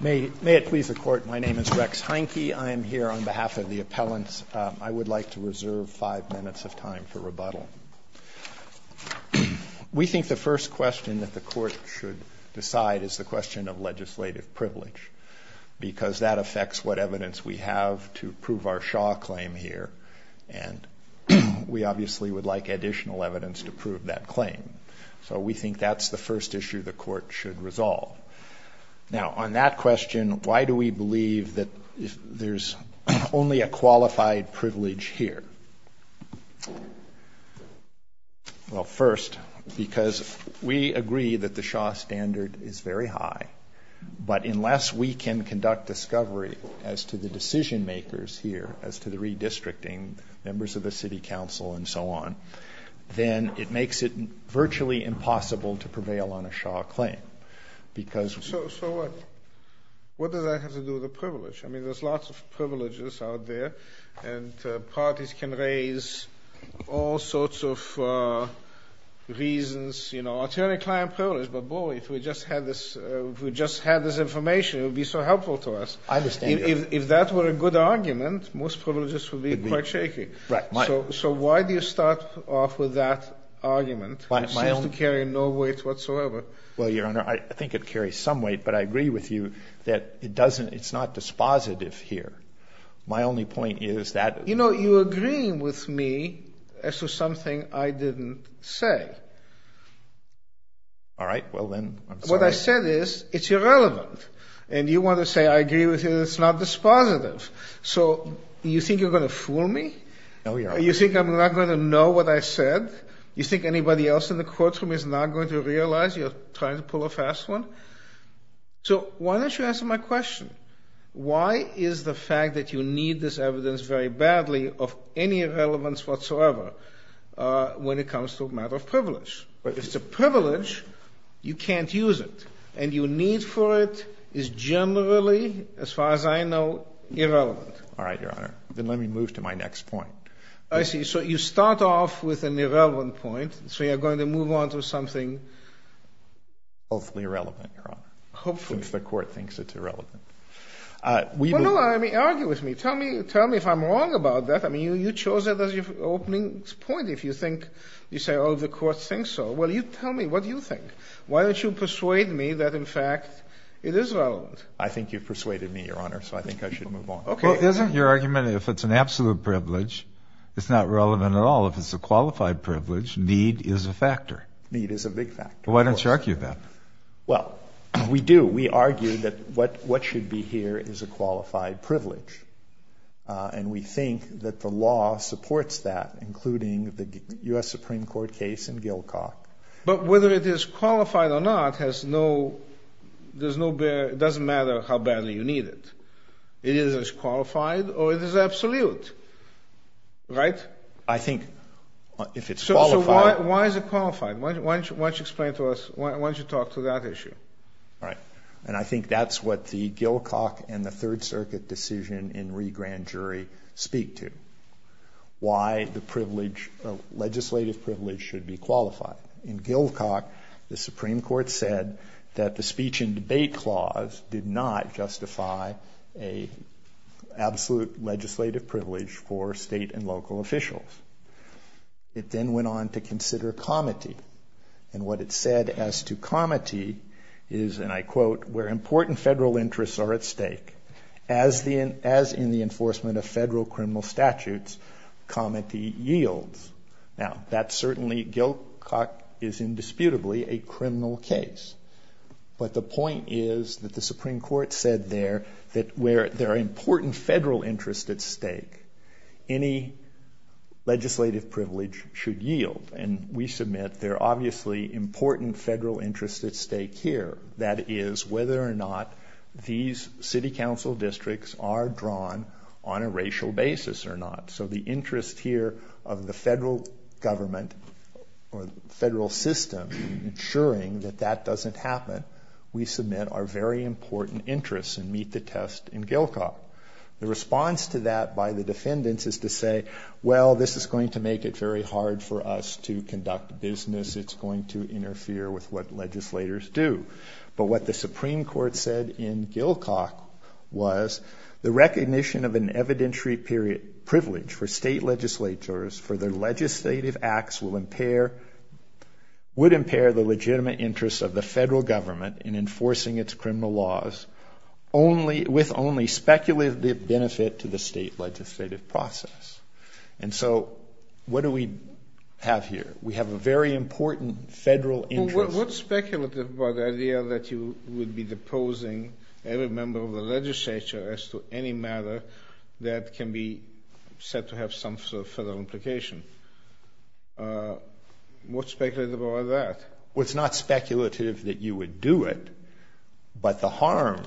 May it please the Court, my name is Rex Heineke. I am here on behalf of the appellants. I would like to reserve five minutes of time for rebuttal. We think the first question that the Court should decide is the question of legislative privilege, because that affects what evidence we have to prove our Shaw claim here, and we obviously would like additional evidence to prove that claim. So we think that's the first issue the Court should resolve. Now on that question, why do we believe that there's only a qualified privilege here? Well first, because we agree that the Shaw standard is very high, but unless we can conduct discovery as to the decision makers here, as to the redistricting, members of the city council and so on, then it makes it virtually impossible to prevail on a Shaw claim. So what? What does that have to do with the privilege? I mean, there's lots of privileges out there, and parties can raise all sorts of reasons, you know, attorney-client privilege, but boy, if we just had this information, it would be so helpful to us. I understand. If that were a good argument, most privileges would be quite shaky. Right. So why do you start off with that argument, which seems to carry no weight whatsoever? Well, Your Honor, I think it carries some weight, but I agree with you that it doesn't, it's not dispositive here. My only point is that... You know, you agree with me as to something I didn't say. All right, well then, I'm sorry. What I said is, it's irrelevant, and you want to say I agree with you that it's not dispositive. So you think you're going to fool me? No, Your Honor. You're not going to know what I said? You think anybody else in the courtroom is not going to realize you're trying to pull a fast one? So why don't you answer my question? Why is the fact that you need this evidence very badly of any relevance whatsoever when it comes to a matter of privilege? If it's a privilege, you can't use it, and your need for it is generally, as far as I know, irrelevant. All right, Your Honor. Then let me move to my next point. I see. So you start off with an irrelevant point, so you're going to move on to something... Hopefully irrelevant, Your Honor. Hopefully. Since the court thinks it's irrelevant. Well, no, I mean, argue with me. Tell me if I'm wrong about that. I mean, you chose it as your opening point. If you think, you say, oh, the court thinks so, well, you tell me, what do you think? Why don't you persuade me that, in fact, it is relevant? I think you've persuaded me, Your Honor, so I think I should move on. Well, isn't your argument if it's an absolute privilege, it's not relevant at all? If it's a qualified privilege, need is a factor. Need is a big factor. Why don't you argue that? Well, we do. We argue that what should be here is a qualified privilege. And we think that the law supports that, including the U.S. Supreme Court case in Gilcock. But whether it is qualified or not has no – doesn't matter how badly you need it. It is as qualified or it is absolute, right? I think if it's qualified – So why is it qualified? Why don't you explain to us – why don't you talk to that issue? All right. And I think that's what the Gilcock and the Third Circuit decision in re-grand jury speak to, why the privilege, legislative privilege, should be qualified. In Gilcock, the Supreme Court said that the speech and debate clause did not justify an absolute legislative privilege for state and local officials. It then went on to consider comity. And what it said as to comity is, and I quote, where important federal interests are at stake, as in the enforcement of federal criminal statutes, comity yields. Now, that's certainly – Gilcock is indisputably a criminal case. But the point is that the Supreme Court said there that where there are important federal interests at stake, any legislative privilege should yield. And we submit there are obviously important federal interests at stake here. That is whether or not these city council districts are drawn on a racial basis or not. So the interest here of the federal government or federal system in ensuring that that doesn't happen, we submit are very important interests and meet the test in Gilcock. The response to that by the defendants is to say, well, this is going to make it very hard for us to conduct business. It's going to interfere with what legislators do. But what the Supreme Court said in Gilcock was the recognition of an evidentiary privilege for state legislatures for their legislative acts would impair the legitimate interests of the federal government in enforcing its criminal laws with only speculative benefit to the state legislative process. And so what do we have here? We have a very important federal interest. But what's speculative about the idea that you would be deposing every member of the legislature as to any matter that can be said to have some sort of federal implication? What's speculative about that? Well, it's not speculative that you would do it, but the harm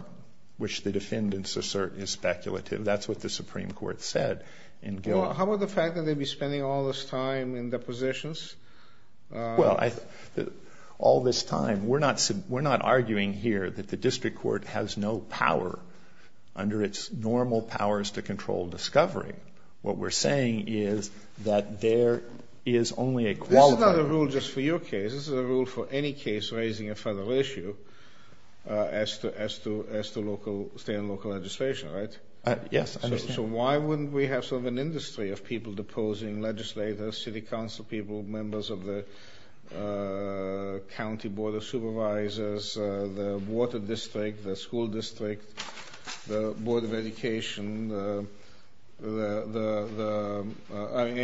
which the defendants assert is speculative. That's what the Supreme Court said in Gilcock. Well, how about the fact that they'd be spending all this time in depositions? Well, all this time, we're not arguing here that the district court has no power under its normal powers to control discovery. What we're saying is that there is only a quality. This is not a rule just for your case. This is a rule for any case raising a federal issue as to state and local legislation, right? Yes, I understand. So why wouldn't we have sort of an industry of people deposing legislators, city council people, members of the county board of supervisors, the water district, the school district, the board of education? I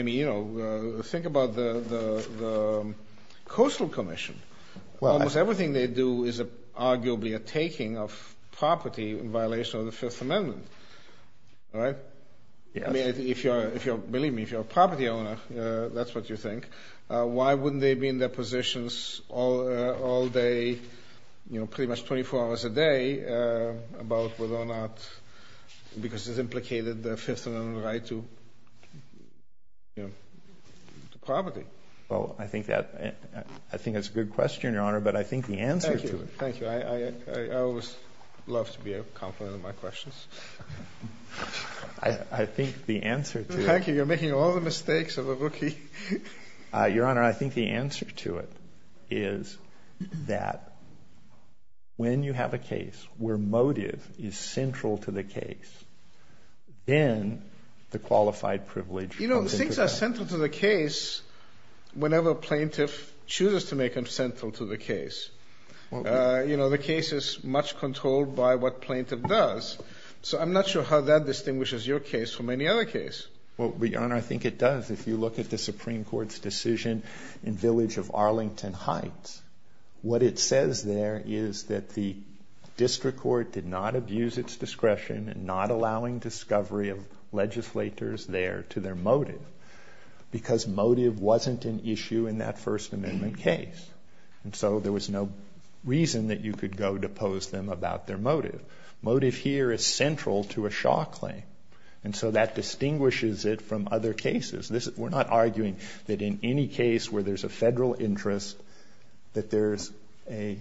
mean, you know, think about the Coastal Commission. Almost everything they do is arguably a taking of property in violation of the Fifth Amendment, right? I mean, believe me, if you're a property owner, that's what you think. Why wouldn't they be in depositions all day, you know, pretty much 24 hours a day about whether or not because it's implicated the Fifth Amendment right to property? Well, I think that's a good question, Your Honor, but I think the answer to it. Thank you. I always love to be a compliment on my questions. I think the answer to it. Thank you. You're making all the mistakes of a rookie. Your Honor, I think the answer to it is that when you have a case where motive is central to the case, then the qualified privilege comes into play. You know, things are central to the case whenever a plaintiff chooses to make them central to the case. You know, the case is much controlled by what plaintiff does, so I'm not sure how that distinguishes your case from any other case. Well, Your Honor, I think it does. If you look at the Supreme Court's decision in Village of Arlington Heights, what it says there is that the district court did not abuse its discretion in not allowing discovery of legislators there to their motive because motive wasn't an issue in that First Amendment case, and so there was no reason that you could go depose them about their motive. Motive here is central to a Shaw claim, and so that distinguishes it from other cases. We're not arguing that in any case where there's a federal interest that there's a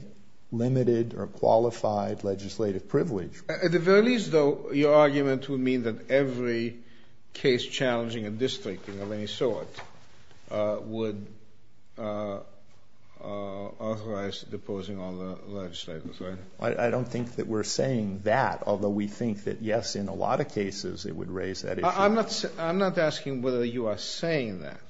limited or qualified legislative privilege. At the very least, though, your argument would mean that every case challenging a district of any sort would authorize deposing all the legislators, right? I don't think that we're saying that, although we think that, yes, in a lot of cases it would raise that issue. I'm not asking whether you are saying that.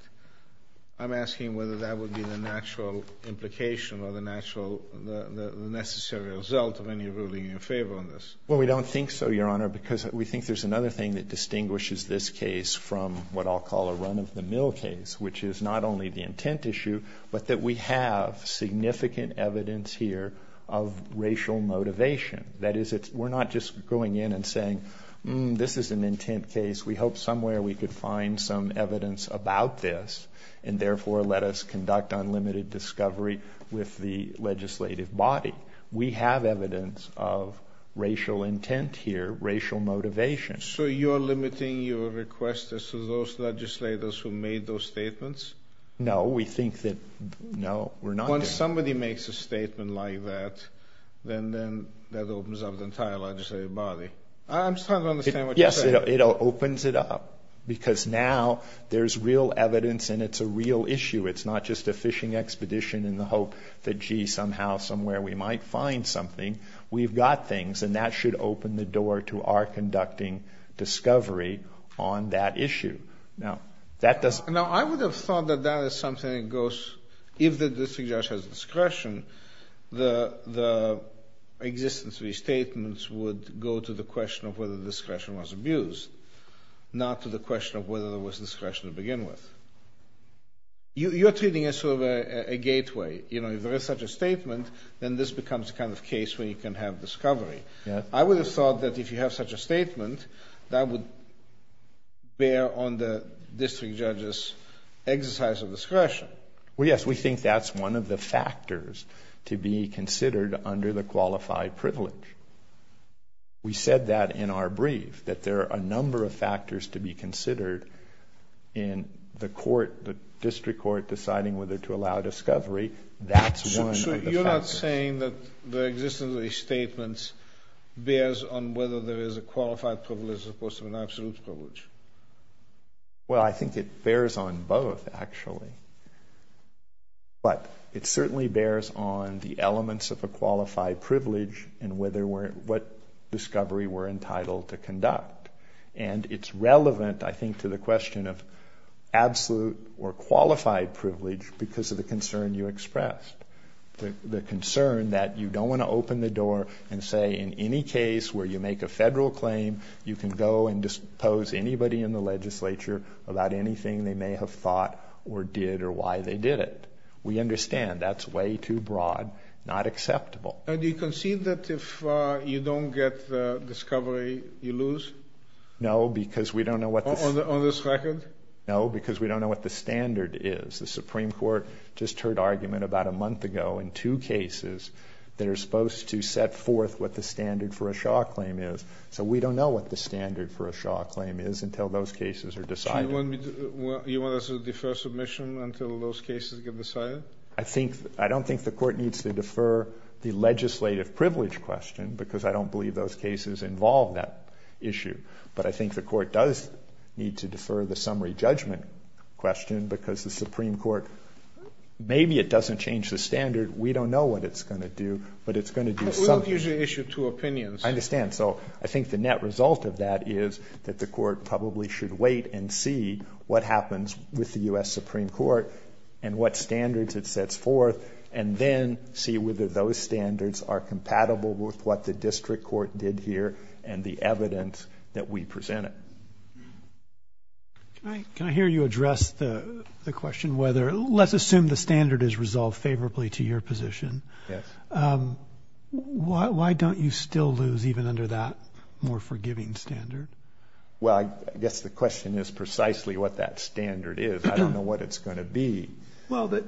I'm asking whether that would be the natural implication or the necessary result of any ruling in favor of this. Well, we don't think so, Your Honor, because we think there's another thing that distinguishes this case from what I'll call a run-of-the-mill case, which is not only the intent issue but that we have significant evidence here of racial motivation. That is, we're not just going in and saying, this is an intent case, we hope somewhere we could find some evidence about this and therefore let us conduct unlimited discovery with the legislative body. We have evidence of racial intent here, racial motivation. So you're limiting your request to those legislators who made those statements? No, we think that, no, we're not doing that. When somebody makes a statement like that, then that opens up the entire legislative body. I'm starting to understand what you're saying. It opens it up because now there's real evidence and it's a real issue. It's not just a fishing expedition in the hope that, gee, somehow, somewhere we might find something. We've got things, and that should open the door to our conducting discovery on that issue. Now, I would have thought that that is something that goes, if the district judge has discretion, the existence of these statements would go to the question of whether discretion was abused, not to the question of whether there was discretion to begin with. You're treating it as sort of a gateway. If there is such a statement, then this becomes a kind of case where you can have discovery. I would have thought that if you have such a statement, that would bear on the district judge's exercise of discretion. Well, yes, we think that's one of the factors to be considered under the qualified privilege. We said that in our brief, that there are a number of factors to be considered in the court, the district court deciding whether to allow discovery. That's one of the factors. So you're not saying that the existence of these statements bears on whether there is a qualified privilege as opposed to an absolute privilege? Well, I think it bears on both, actually. But it certainly bears on the elements of a qualified privilege and what discovery we're entitled to conduct. And it's relevant, I think, to the question of absolute or qualified privilege because of the concern you expressed, the concern that you don't want to open the door and say in any case where you make a federal claim, you can go and dispose anybody in the legislature about anything they may have thought or did or why they did it. We understand that's way too broad, not acceptable. And do you concede that if you don't get discovery, you lose? No, because we don't know what the standard is. The Supreme Court just heard argument about a month ago in two cases that are supposed to set forth what the standard for a Shaw claim is. So we don't know what the standard for a Shaw claim is until those cases are decided. So you want us to defer submission until those cases get decided? I don't think the court needs to defer the legislative privilege question because I don't believe those cases involve that issue. But I think the court does need to defer the summary judgment question because the Supreme Court, maybe it doesn't change the standard. We don't know what it's going to do, but it's going to do something. We don't usually issue two opinions. I understand. So I think the net result of that is that the court probably should wait and see what happens with the U.S. Supreme Court and what standards it sets forth and then see whether those standards are compatible with what the district court did here and the evidence that we presented. Can I hear you address the question whether let's assume the standard is resolved favorably to your position. Yes. Why don't you still lose even under that more forgiving standard? Well, I guess the question is precisely what that standard is. I don't know what it's going to be. Well, that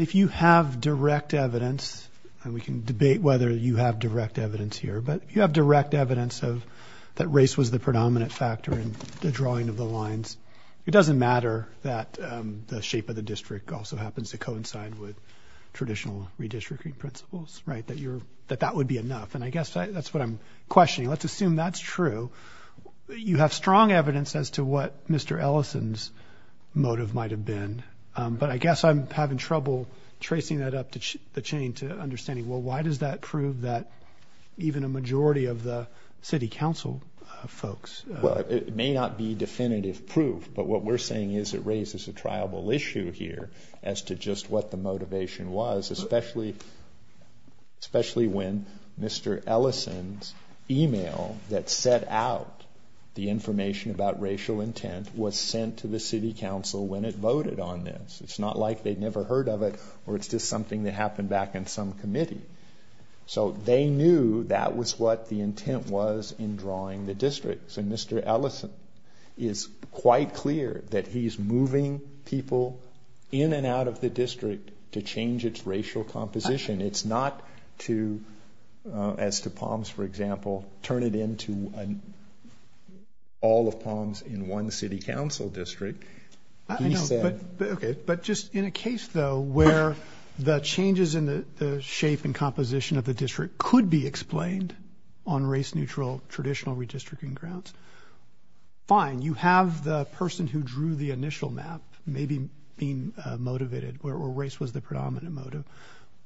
if you have direct evidence, and we can debate whether you have direct evidence here, but if you have direct evidence that race was the predominant factor in the drawing of the lines, it doesn't matter that the shape of the district also happens to coincide with traditional redistricting principles, that that would be enough. And I guess that's what I'm questioning. Let's assume that's true. You have strong evidence as to what Mr. Ellison's motive might have been, but I guess I'm having trouble tracing that up the chain to understanding, well, why does that prove that even a majority of the city council folks? Well, it may not be definitive proof, but what we're saying is it raises a triable issue here as to just what the motivation was, especially when Mr. Ellison's email that set out the information about racial intent was sent to the city council when it voted on this. It's not like they'd never heard of it or it's just something that happened back in some committee. So they knew that was what the intent was in drawing the districts, and Mr. Ellison is quite clear that he's moving people in and out of the district to change its racial composition. It's not to, as to Palms, for example, turn it into all of Palms in one city council district. But just in a case, though, where the changes in the shape and composition of the district could be explained on race neutral, traditional redistricting grounds. Fine. You have the person who drew the initial map maybe being motivated where race was the predominant motive.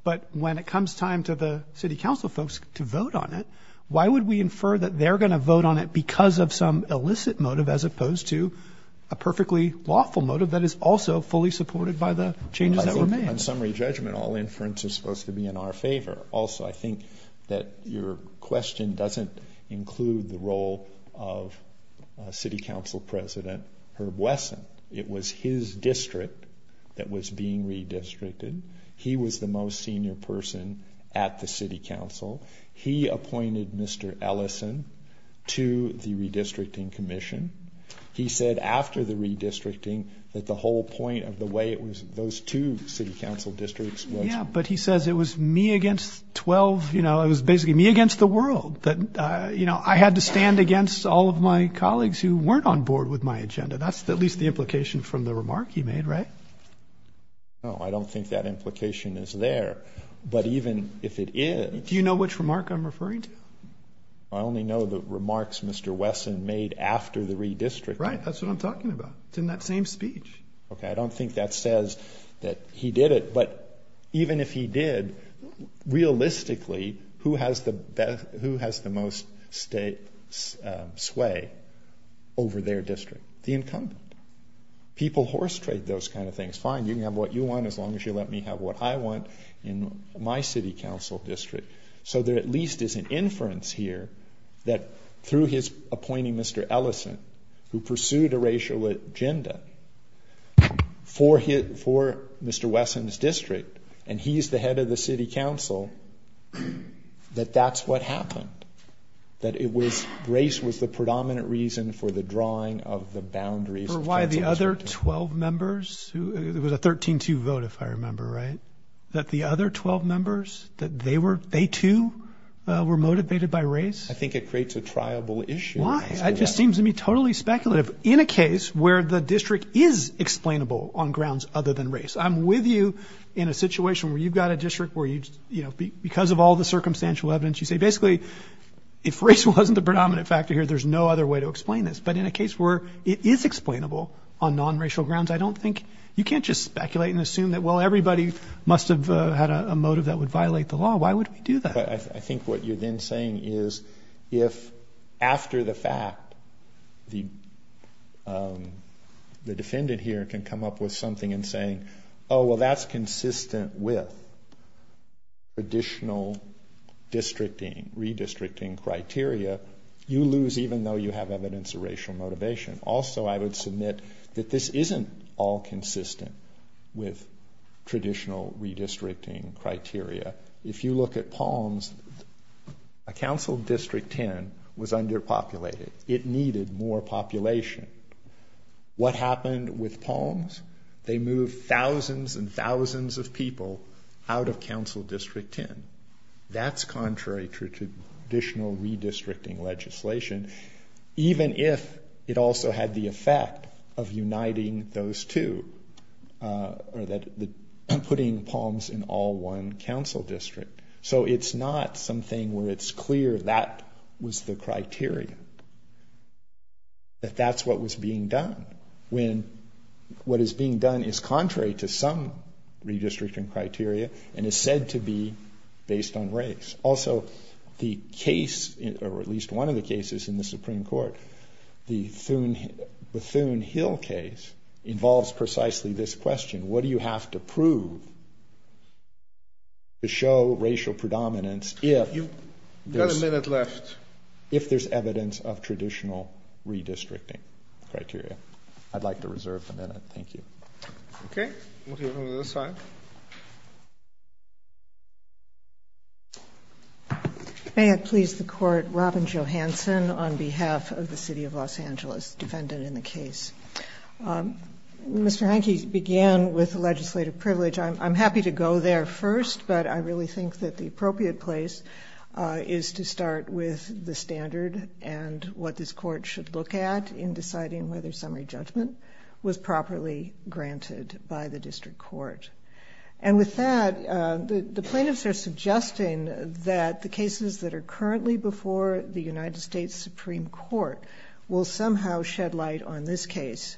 But when it comes time to the city council folks to vote on it, why would we infer that they're going to vote on it because of some illicit motive as opposed to a perfectly lawful motive that is also fully supported by the changes that remain? On summary judgment, all inference is supposed to be in our favor. Also, I think that your question doesn't include the role of city council president Herb Wesson. It was his district that was being redistricted. He was the most senior person at the city council. He appointed Mr. Ellison to the redistricting commission. He said after the redistricting that the whole point of the way it was those two city council districts. Yeah. But he says it was me against 12. You know, it was basically me against the world. But, you know, I had to stand against all of my colleagues who weren't on board with my agenda. That's at least the implication from the remark he made. Right. Oh, I don't think that implication is there. But even if it is. Do you know which remark I'm referring to? I only know the remarks Mr. Wesson made after the redistricting. Right. That's what I'm talking about. It's in that same speech. Okay. I don't think that says that he did it. But even if he did, realistically, who has the most sway over their district? The incumbent. People horse trade those kind of things. Fine. You can have what you want as long as you let me have what I want in my city council district. So there at least is an inference here that through his appointing Mr. Ellison, who pursued a racial agenda for Mr. Wesson's district, and he's the head of the city council, that that's what happened. That it was race was the predominant reason for the drawing of the boundaries. For why the other 12 members, it was a 13-2 vote if I remember right, that the other 12 members, that they too were motivated by race. I think it creates a triable issue. Why? It just seems to me totally speculative. In a case where the district is explainable on grounds other than race. I'm with you in a situation where you've got a district where because of all the circumstantial evidence, you say basically if race wasn't the predominant factor here, there's no other way to explain this. But in a case where it is explainable on non-racial grounds, I don't think, you can't just speculate and assume that, well, everybody must have had a motive that would violate the law. Why would we do that? I think what you're then saying is if after the fact the defendant here can come up with something and say, oh, well, that's consistent with traditional redistricting criteria, you lose even though you have evidence of racial motivation. Also, I would submit that this isn't all consistent with traditional redistricting criteria. If you look at Palms, a council district 10 was underpopulated. It needed more population. What happened with Palms? They moved thousands and thousands of people out of council district 10. That's contrary to traditional redistricting legislation, even if it also had the effect of uniting those two or putting Palms in all one council district. So it's not something where it's clear that was the criteria, that that's what was being done, when what is being done is contrary to some redistricting criteria and is said to be based on race. Also, the case or at least one of the cases in the Supreme Court, the Bethune Hill case, involves precisely this question. What do you have to prove to show racial predominance if there's evidence of traditional redistricting criteria? I'd like to reserve the minute. Thank you. Okay. We'll go to the other side. May it please the Court, Robin Johanson on behalf of the City of Los Angeles, defendant in the case. Mr. Hanke began with legislative privilege. I'm happy to go there first, but I really think that the appropriate place is to start with the standard and what this court should look at in deciding whether summary judgment was properly granted by the district court. And with that, the plaintiffs are suggesting that the cases that are currently before the United States Supreme Court will somehow shed light on this case.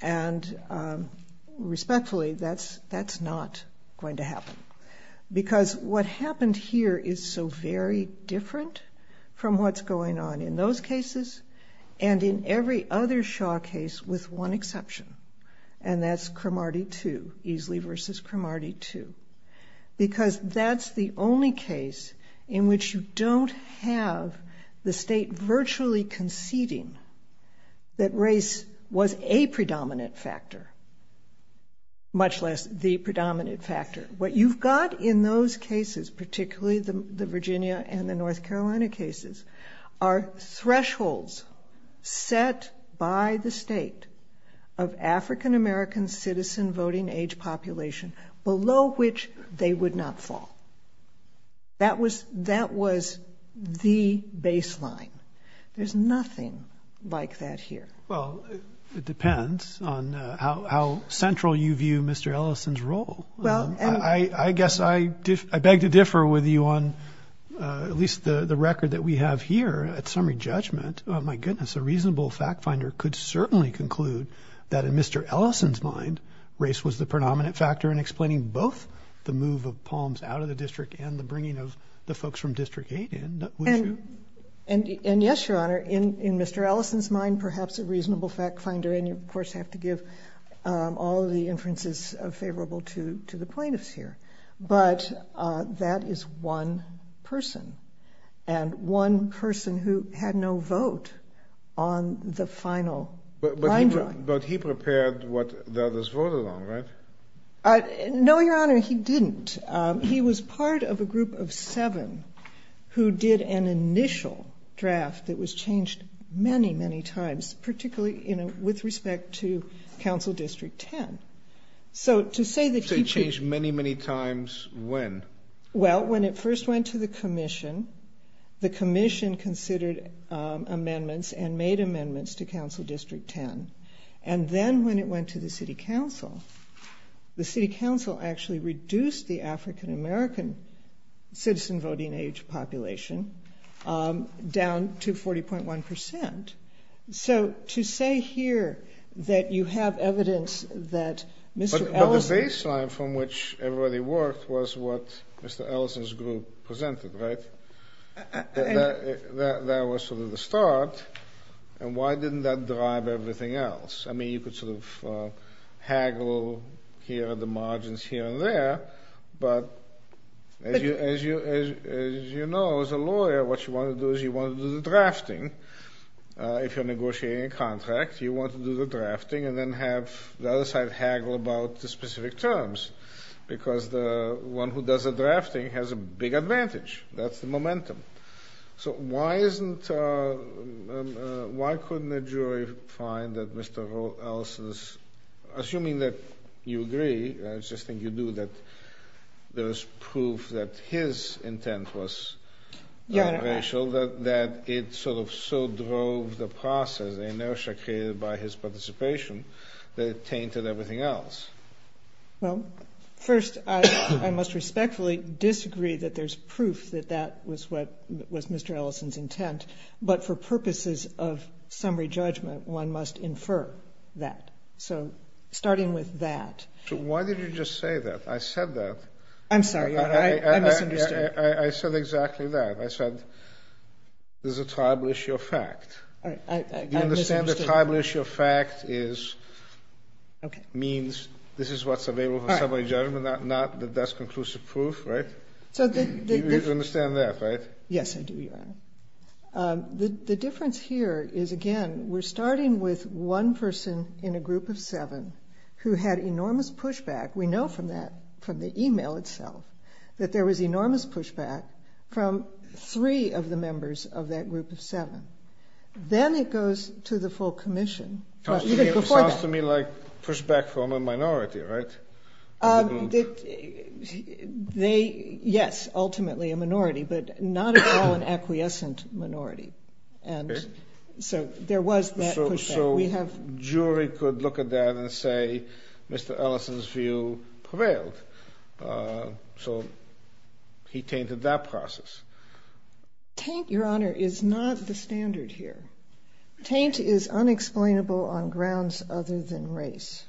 And respectfully, that's not going to happen, because what happened here is so very different from what's going on in those cases and in every other Shaw case with one exception. And that's Cromartie 2, Easley v. Cromartie 2, because that's the only case in which you don't have the state virtually conceding that race was a predominant factor, much less the predominant factor. What you've got in those cases, particularly the Virginia and the North Carolina cases, are thresholds set by the state of African-American citizen voting age population below which they would not fall. That was the baseline. There's nothing like that here. Well, it depends on how central you view Mr. Ellison's role. I guess I beg to differ with you on at least the record that we have here at summary judgment. My goodness, a reasonable fact finder could certainly conclude that in Mr. Ellison's mind, race was the predominant factor in explaining both the move of Palms out of the district and the bringing of the folks from District 8 in. And yes, Your Honor, in Mr. Ellison's mind, perhaps a reasonable fact finder, and you, of course, have to give all the inferences favorable to the plaintiffs here. But that is one person and one person who had no vote on the final line drawing. But he prepared what the others voted on, right? No, Your Honor, he didn't. He was part of a group of seven who did an initial draft that was changed many, many times, particularly, you know, with respect to Council District 10. So to say that he changed many, many times, when? Well, when it first went to the commission, the commission considered amendments and made amendments to Council District 10. And then when it went to the city council, the city council actually reduced the African-American citizen voting age population down to 40.1 percent. So to say here that you have evidence that Mr. Ellison... But the baseline from which everybody worked was what Mr. Ellison's group presented, right? That was sort of the start. And why didn't that drive everything else? I mean, you could sort of haggle here at the margins here and there. But as you know, as a lawyer, what you want to do is you want to do the drafting. If you're negotiating a contract, you want to do the drafting and then have the other side haggle about the specific terms because the one who does the drafting has a big advantage. That's the momentum. So why couldn't a jury find that Mr. Ellison's... There was proof that his intent was racial, that it sort of so drove the process, the inertia created by his participation, that it tainted everything else? Well, first, I must respectfully disagree that there's proof that that was Mr. Ellison's intent. But for purposes of summary judgment, one must infer that. So starting with that. So why did you just say that? I said that. I'm sorry. I misunderstood. I said exactly that. I said there's a tribal issue of fact. Do you understand that tribal issue of fact means this is what's available for summary judgment, not that that's conclusive proof, right? You understand that, right? Yes, I do, Your Honor. The difference here is, again, we're starting with one person in a group of seven who had enormous pushback. We know from that, from the e-mail itself, that there was enormous pushback from three of the members of that group of seven. Then it goes to the full commission. Sounds to me like pushback from a minority, right? Yes, ultimately a minority, but not at all an acquiescent minority. So there was that pushback. So a jury could look at that and say Mr. Ellison's view prevailed. So he tainted that process. Taint, Your Honor, is not the standard here. Taint is unexplainable on grounds other than race.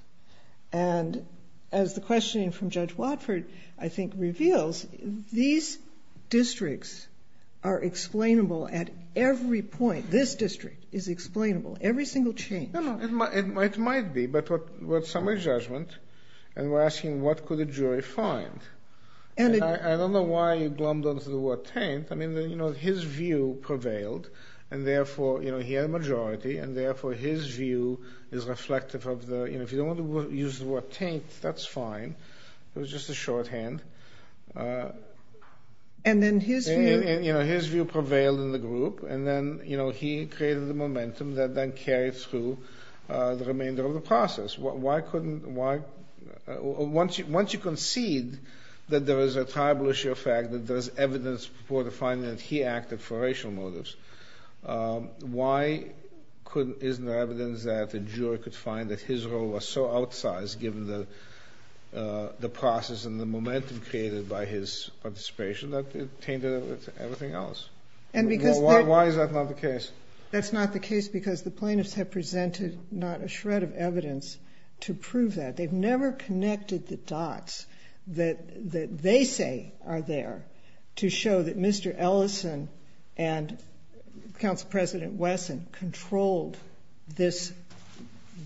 And as the questioning from Judge Watford, I think, reveals, these districts are explainable at every point. This district is explainable. Every single change. It might be, but we're at summary judgment and we're asking what could a jury find. I don't know why you glommed on to the word taint. I mean, you know, his view prevailed, and therefore he had a majority, and therefore his view is reflective of the, you know, if you don't want to use the word taint, that's fine. It was just a shorthand. And then his view prevailed in the group, and then, you know, he created the momentum that then carried through the remainder of the process. Why couldn't, why, once you concede that there is a tribal issue of fact, that there is evidence for the finding that he acted for racial motives, why couldn't, isn't there evidence that the jury could find that his role was so outsized, given the process and the momentum created by his participation, that it tainted everything else? Why is that not the case? That's not the case because the plaintiffs have presented not a shred of evidence to prove that. They've never connected the dots that they say are there to show that Mr. Ellison and Council President Wesson controlled this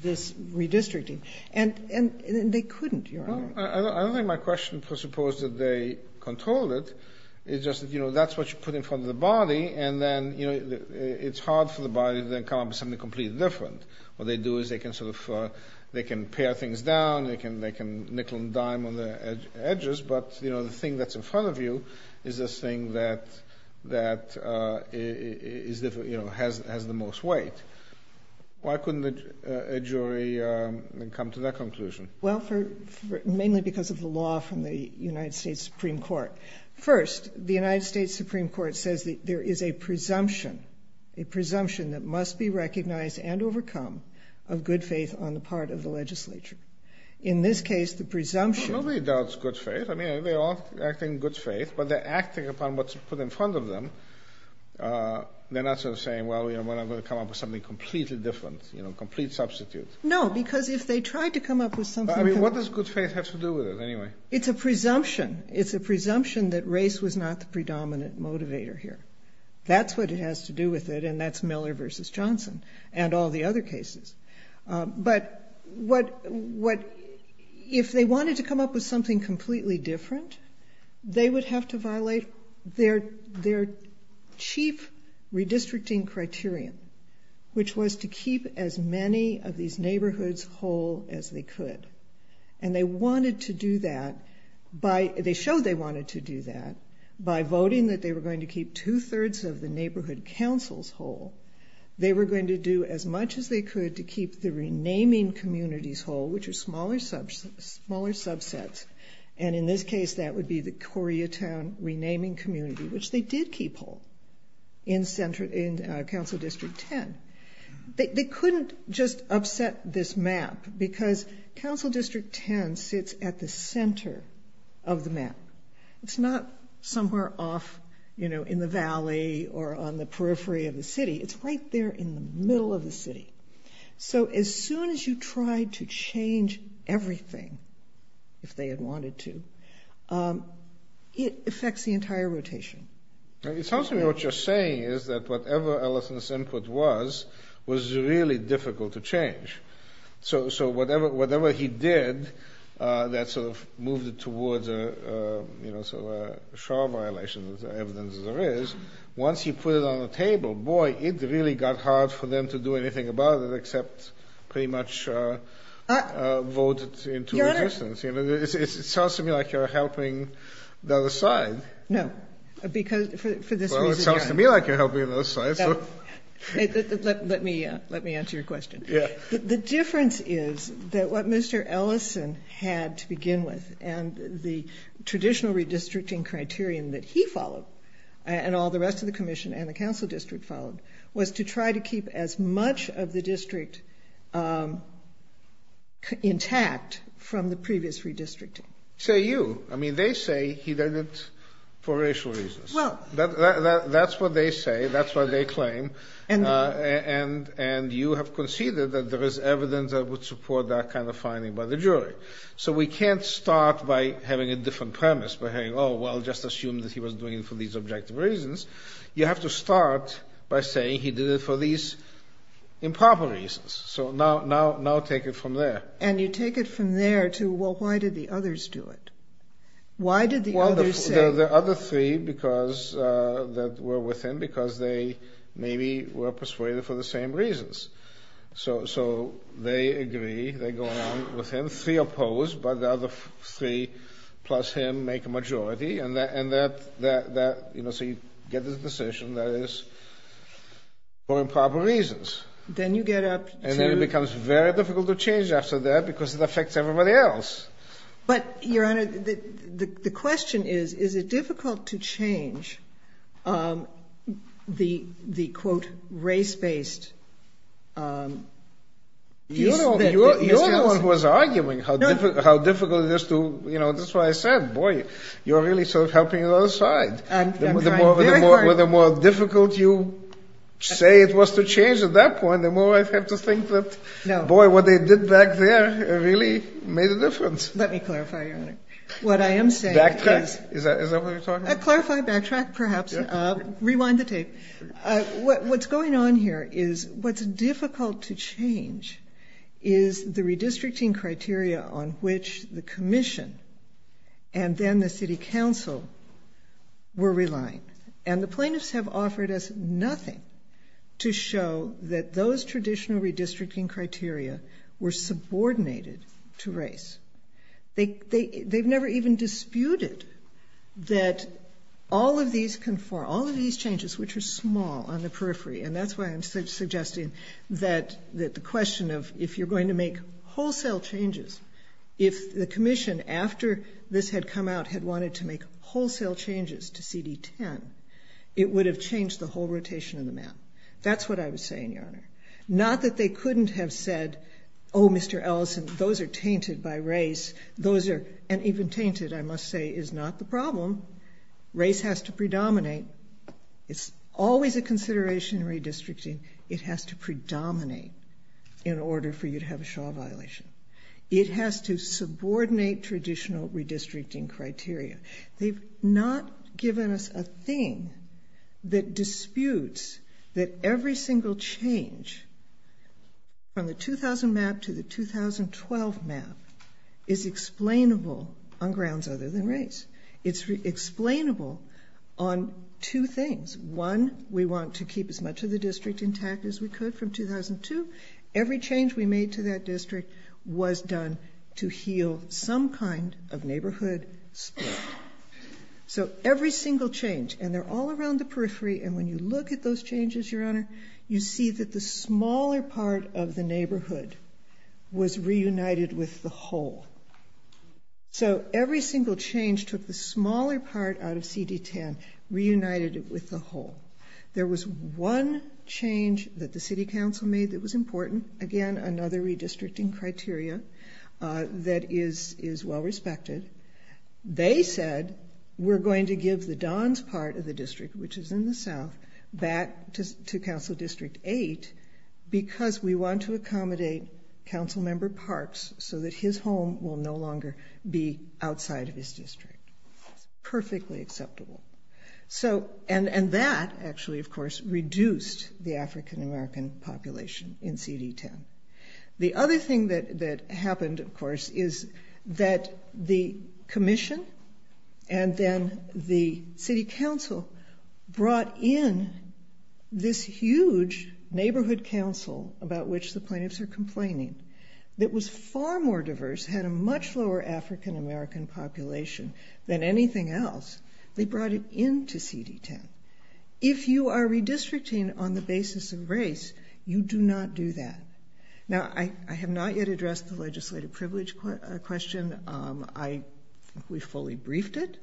redistricting. And they couldn't, Your Honor. I don't think my question presupposes that they controlled it. It's just that, you know, that's what you put in front of the body, and then, you know, it's hard for the body to then come up with something completely different. What they do is they can sort of, they can pare things down, they can nickel and dime on the edges, but, you know, the thing that's in front of you is this thing that has the most weight. Why couldn't a jury come to that conclusion? Well, mainly because of the law from the United States Supreme Court. First, the United States Supreme Court says that there is a presumption, a presumption that must be recognized and overcome of good faith on the part of the legislature. In this case, the presumption- Well, nobody doubts good faith. I mean, they're all acting in good faith, but they're acting upon what's put in front of them. They're not sort of saying, well, you know, we're not going to come up with something completely different, you know, complete substitute. No, because if they tried to come up with something- I mean, what does good faith have to do with it, anyway? It's a presumption. It's a presumption that race was not the predominant motivator here. That's what it has to do with it, and that's Miller v. Johnson and all the other cases. But if they wanted to come up with something completely different, they would have to violate their chief redistricting criterion, which was to keep as many of these neighborhoods whole as they could. And they wanted to do that by- They showed they wanted to do that by voting that they were going to keep two-thirds of the neighborhood councils whole. They were going to do as much as they could to keep the renaming communities whole, which are smaller subsets. And in this case, that would be the Coria Town renaming community, which they did keep whole in Council District 10. They couldn't just upset this map because Council District 10 sits at the center of the map. It's not somewhere off in the valley or on the periphery of the city. It's right there in the middle of the city. So as soon as you try to change everything, if they had wanted to, it affects the entire rotation. It sounds to me what you're saying is that whatever Ellison's input was, was really difficult to change. So whatever he did that sort of moved it towards a shore violation, as evidence as there is, once he put it on the table, boy, it really got hard for them to do anything about it except pretty much vote into resistance. Your Honor- It sounds to me like you're helping the other side. No, because for this reason- Well, it sounds to me like you're helping the other side. Let me answer your question. The difference is that what Mr. Ellison had to begin with and the traditional redistricting criterion that he followed and all the rest of the Commission and the Council District followed was to try to keep as much of the district intact from the previous redistricting. Say you. I mean, they say he did it for racial reasons. That's what they say. That's what they claim. And you have conceded that there is evidence that would support that kind of finding by the jury. So we can't start by having a different premise, by saying, oh, well, just assume that he was doing it for these objective reasons. You have to start by saying he did it for these improper reasons. So now take it from there. And you take it from there to, well, why did the others do it? Why did the others say- Well, the other three that were with him because they maybe were persuaded for the same reasons. So they agree. They go along with him. Three oppose, but the other three plus him make a majority. And so you get this decision that it is for improper reasons. Then you get up to- But, Your Honor, the question is, is it difficult to change the, quote, race-based- You're the one who was arguing how difficult it is to- That's why I said, boy, you're really sort of helping the other side. I'm trying very hard. The more difficult you say it was to change at that point, the more I have to think that, boy, what they did back there really made a difference. Let me clarify, Your Honor. What I am saying is- Backtrack? Is that what you're talking about? A clarified backtrack, perhaps. Rewind the tape. What's going on here is what's difficult to change is the redistricting criteria on which the commission and then the city council were relying. And the plaintiffs have offered us nothing to show that those traditional redistricting criteria were subordinated to race. They've never even disputed that all of these can- All of these changes, which are small on the periphery, and that's why I'm suggesting that the question of if you're going to make wholesale changes, if the commission, after this had come out, had wanted to make wholesale changes to CD10, it would have changed the whole rotation of the map. That's what I was saying, Your Honor. Not that they couldn't have said, oh, Mr. Ellison, those are tainted by race. Those are- and even tainted, I must say, is not the problem. Race has to predominate. It's always a consideration in redistricting. It has to predominate in order for you to have a Shaw violation. It has to subordinate traditional redistricting criteria. They've not given us a thing that disputes that every single change from the 2000 map to the 2012 map is explainable on grounds other than race. It's explainable on two things. One, we want to keep as much of the district intact as we could from 2002. Every change we made to that district was done to heal some kind of neighborhood split. So every single change, and they're all around the periphery, and when you look at those changes, Your Honor, you see that the smaller part of the neighborhood was reunited with the whole. So every single change took the smaller part out of CD10, reunited it with the whole. There was one change that the City Council made that was important. Again, another redistricting criteria that is well respected. They said, we're going to give the Don's part of the district, which is in the south, back to Council District 8 because we want to accommodate Councilmember Parks so that his home will no longer be outside of his district. Perfectly acceptable. And that actually, of course, reduced the African-American population in CD10. The other thing that happened, of course, is that the commission and then the City Council brought in this huge neighborhood council about which the plaintiffs are complaining that was far more diverse, had a much lower African-American population than anything else. They brought it into CD10. If you are redistricting on the basis of race, you do not do that. Now, I have not yet addressed the legislative privilege question. We fully briefed it.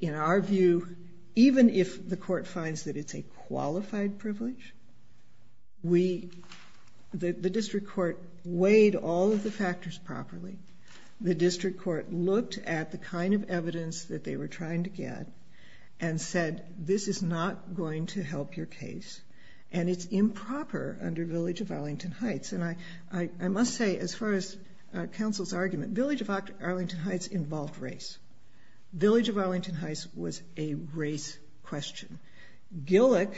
In our view, even if the court finds that it's a qualified privilege, the district court weighed all of the factors properly. The district court looked at the kind of evidence that they were trying to get and said, this is not going to help your case, and it's improper under Village of Arlington Heights. And I must say, as far as Council's argument, Village of Arlington Heights involved race. Village of Arlington Heights was a race question. Gillick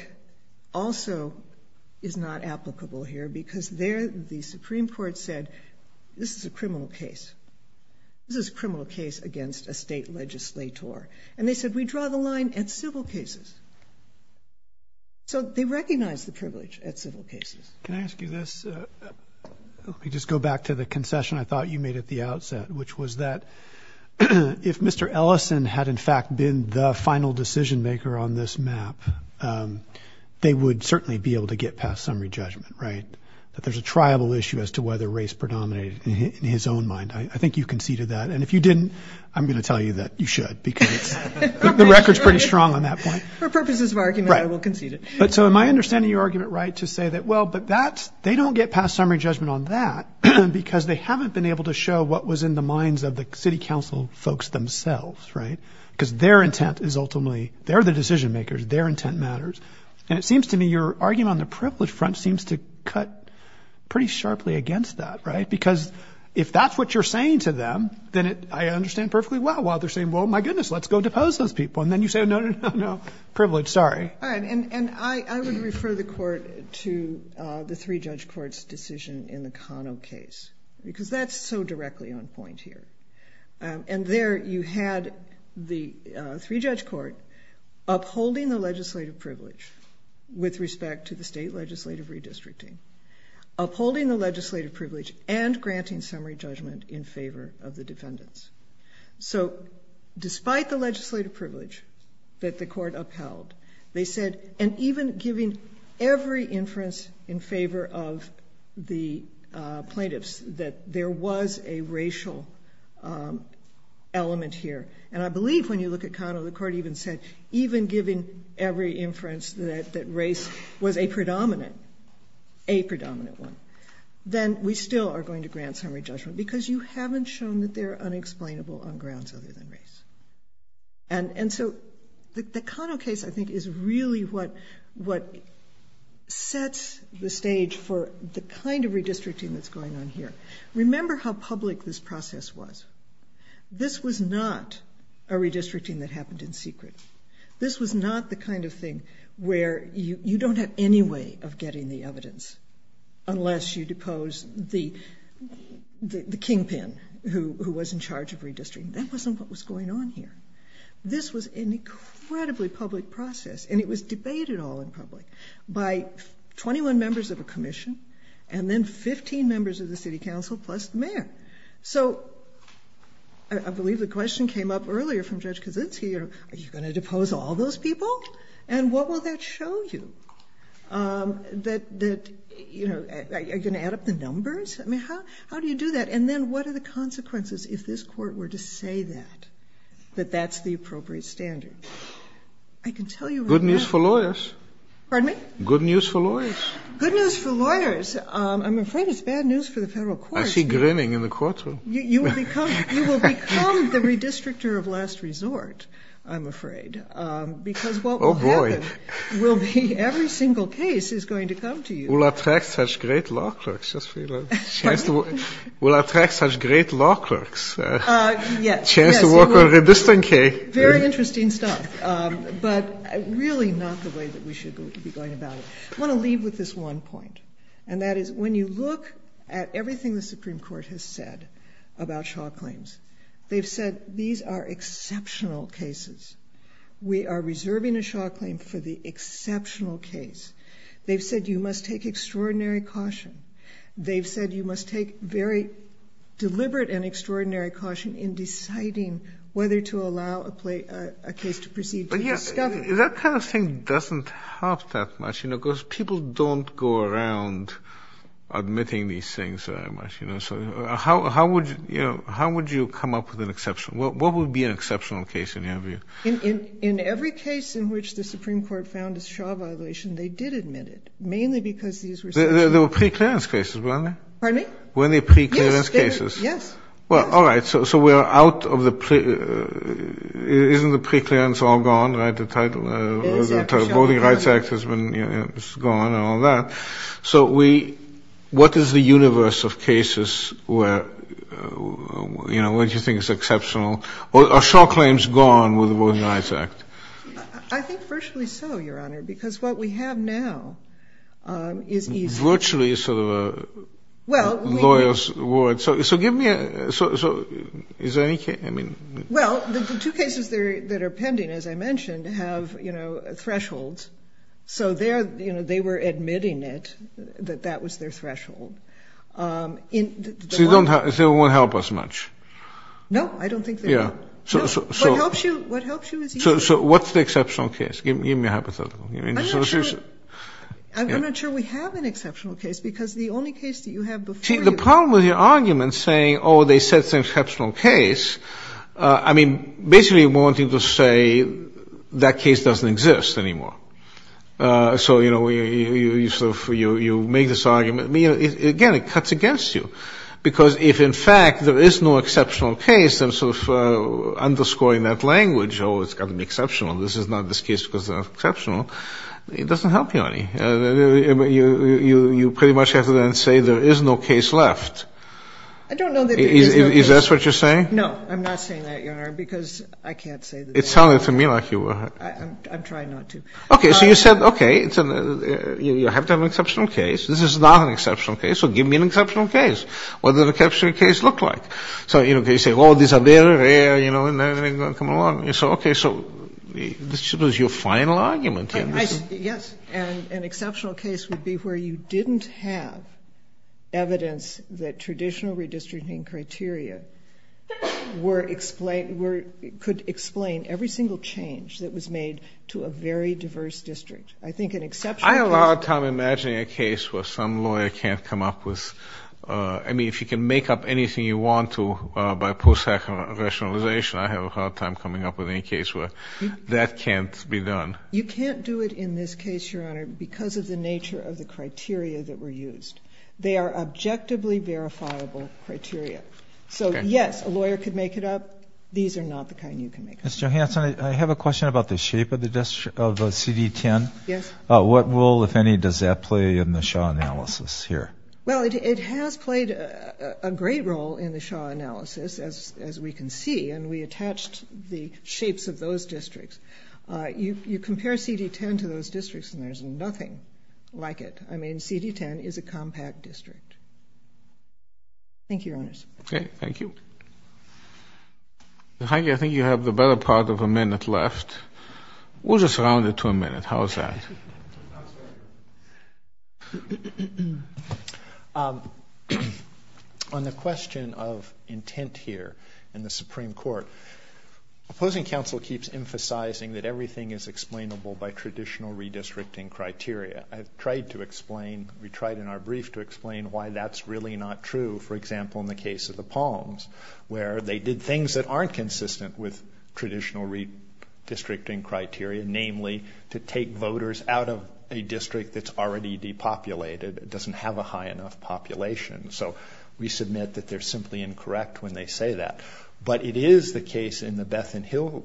also is not applicable here because there the Supreme Court said, this is a criminal case. This is a criminal case against a state legislator. And they said, we draw the line at civil cases. So they recognized the privilege at civil cases. Can I ask you this? Let me just go back to the concession I thought you made at the outset, which was that if Mr. Ellison had, in fact, been the final decision-maker on this map, they would certainly be able to get past summary judgment, right? That there's a triable issue as to whether race predominated in his own mind. I think you conceded that. And if you didn't, I'm going to tell you that you should, because the record's pretty strong on that point. For purposes of argument, I will concede it. So am I understanding your argument right to say that, well, but they don't get past summary judgment on that because they haven't been able to show what was in the minds of the city council folks themselves, right? Because their intent is ultimately, they're the decision-makers. Their intent matters. And it seems to me your argument on the privilege front seems to cut pretty sharply against that, right? Because if that's what you're saying to them, then I understand perfectly well why they're saying, well, my goodness, let's go depose those people. And then you say, no, no, no, no, privilege, sorry. All right. And I would refer the court to the three-judge court's decision in the Kano case, because that's so directly on point here. And there you had the three-judge court upholding the legislative privilege with respect to the state legislative redistricting, upholding the legislative privilege and granting summary judgment in favor of the defendants. So despite the legislative privilege that the court upheld, they said, and even giving every inference in favor of the plaintiffs, that there was a racial element here. And I believe when you look at Kano, the court even said, even giving every inference that race was a predominant one, then we still are going to grant summary judgment, because you haven't shown that they're unexplainable on grounds other than race. And so the Kano case, I think, is really what sets the stage for the kind of redistricting that's going on here. Remember how public this process was. This was not a redistricting that happened in secret. This was not the kind of thing where you don't have any way of getting the evidence unless you depose the kingpin who was in charge of redistricting. That wasn't what was going on here. This was an incredibly public process, and it was debated all in public by 21 members of a commission and then 15 members of the city council plus the mayor. So I believe the question came up earlier from Judge Kaczynski, are you going to depose all those people? And what will that show you? Are you going to add up the numbers? I mean, how do you do that? And then what are the consequences if this court were to say that, that that's the appropriate standard? I can tell you right now. Good news for lawyers. Pardon me? Good news for lawyers. Good news for lawyers. I'm afraid it's bad news for the federal courts. I see grinning in the courtroom. You will become the redistrictor of last resort, I'm afraid, because what will happen will be every single case is going to come to you. Will attract such great law clerks. Will attract such great law clerks. Chance to work on redistricting. Very interesting stuff. But really not the way that we should be going about it. I want to leave with this one point, and that is when you look at everything the Supreme Court has said about Shaw claims, they've said these are exceptional cases. We are reserving a Shaw claim for the exceptional case. They've said you must take extraordinary caution. They've said you must take very deliberate and extraordinary caution in That kind of thing doesn't help that much, because people don't go around admitting these things very much. How would you come up with an exceptional? What would be an exceptional case, in your view? In every case in which the Supreme Court found a Shaw violation, they did admit it, mainly because these were exceptional cases. They were preclearance cases, weren't they? Pardon me? Weren't they preclearance cases? Yes. All right. So we are out of the preclearance. Isn't the preclearance all gone? The Voting Rights Act is gone and all that. So what is the universe of cases where you think it's exceptional? Are Shaw claims gone with the Voting Rights Act? I think virtually so, Your Honor, because what we have now is easy. Virtually is sort of a lawyer's word. So is there any case? Well, the two cases that are pending, as I mentioned, have thresholds. So they were admitting it, that that was their threshold. So they won't help us much? No, I don't think they will. What helps you is easy. So what's the exceptional case? Give me a hypothetical. I'm not sure we have an exceptional case, because the only case that you have before you is a problem with your argument saying, oh, they said it's an exceptional case. I mean, basically wanting to say that case doesn't exist anymore. So, you know, you make this argument. Again, it cuts against you, because if, in fact, there is no exceptional case, then sort of underscoring that language, oh, it's got to be exceptional, this is not this case because it's not exceptional, it doesn't help you any. You pretty much have to then say there is no case left. I don't know that there is no case. Is that what you're saying? No, I'm not saying that, Your Honor, because I can't say that. It sounded to me like you were. I'm trying not to. Okay, so you said, okay, you have to have an exceptional case. This is not an exceptional case, so give me an exceptional case. What does an exceptional case look like? So, you know, you say, oh, these are very rare, you know, and then they come along. So, okay, so this was your final argument. Yes, and an exceptional case would be where you didn't have evidence that traditional redistricting criteria could explain every single change that was made to a very diverse district. I think an exceptional case. I have a hard time imagining a case where some lawyer can't come up with, I mean, if you can make up anything you want to by post-hacker rationalization, I have a hard time coming up with any case where that can't be done. You can't do it in this case, Your Honor, because of the nature of the criteria that were used. They are objectively verifiable criteria. So, yes, a lawyer could make it up. These are not the kind you can make up. Ms. Johanson, I have a question about the shape of the CD10. Yes. What role, if any, does that play in the Shaw analysis here? Well, it has played a great role in the Shaw analysis, as we can see, and we attached the shapes of those districts. You compare CD10 to those districts, and there's nothing like it. I mean, CD10 is a compact district. Thank you, Your Honors. Okay. Thank you. And, Heidi, I think you have the better part of a minute left. We'll just round it to a minute. How's that? On the question of intent here in the Supreme Court, opposing counsel keeps emphasizing that everything is explainable by traditional redistricting criteria. I've tried to explain, we tried in our brief to explain why that's really not true, for example, in the case of the Palms, where they did things that aren't consistent with traditional redistricting criteria, namely to take voters out of a district that's already depopulated, doesn't have a high enough population. So we submit that they're simply incorrect when they say that. But it is the case in the Bethan Hill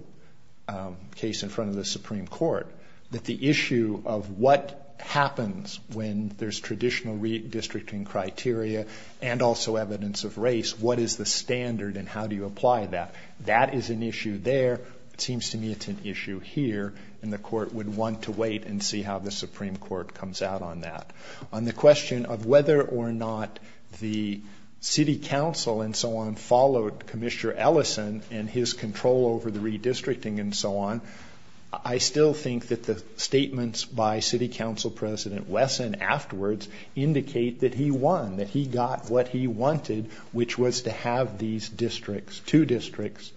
case in front of the Supreme Court that the issue of what happens when there's traditional redistricting criteria and also evidence of race, what is the standard and how do you apply that? That is an issue there. It seems to me it's an issue here, and the Court would want to wait and see how the Supreme Court comes out on that. On the question of whether or not the City Council and so on followed Commissioner Ellison and his control over the redistricting and so on, I still think that the statements by City Council President Wesson afterwards indicate that he won, that he got what he wanted, which was to have these districts, two districts,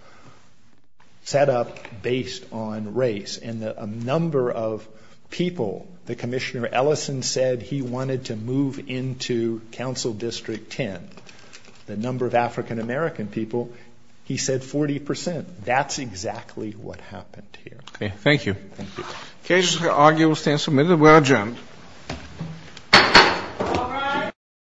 set up based on race. And the number of people that Commissioner Ellison said he wanted to move into Council District 10, the number of African-American people, he said 40 percent. That's exactly what happened here. Okay. Thank you. Thank you. The case for arguable stand submitted. We're adjourned. All rise.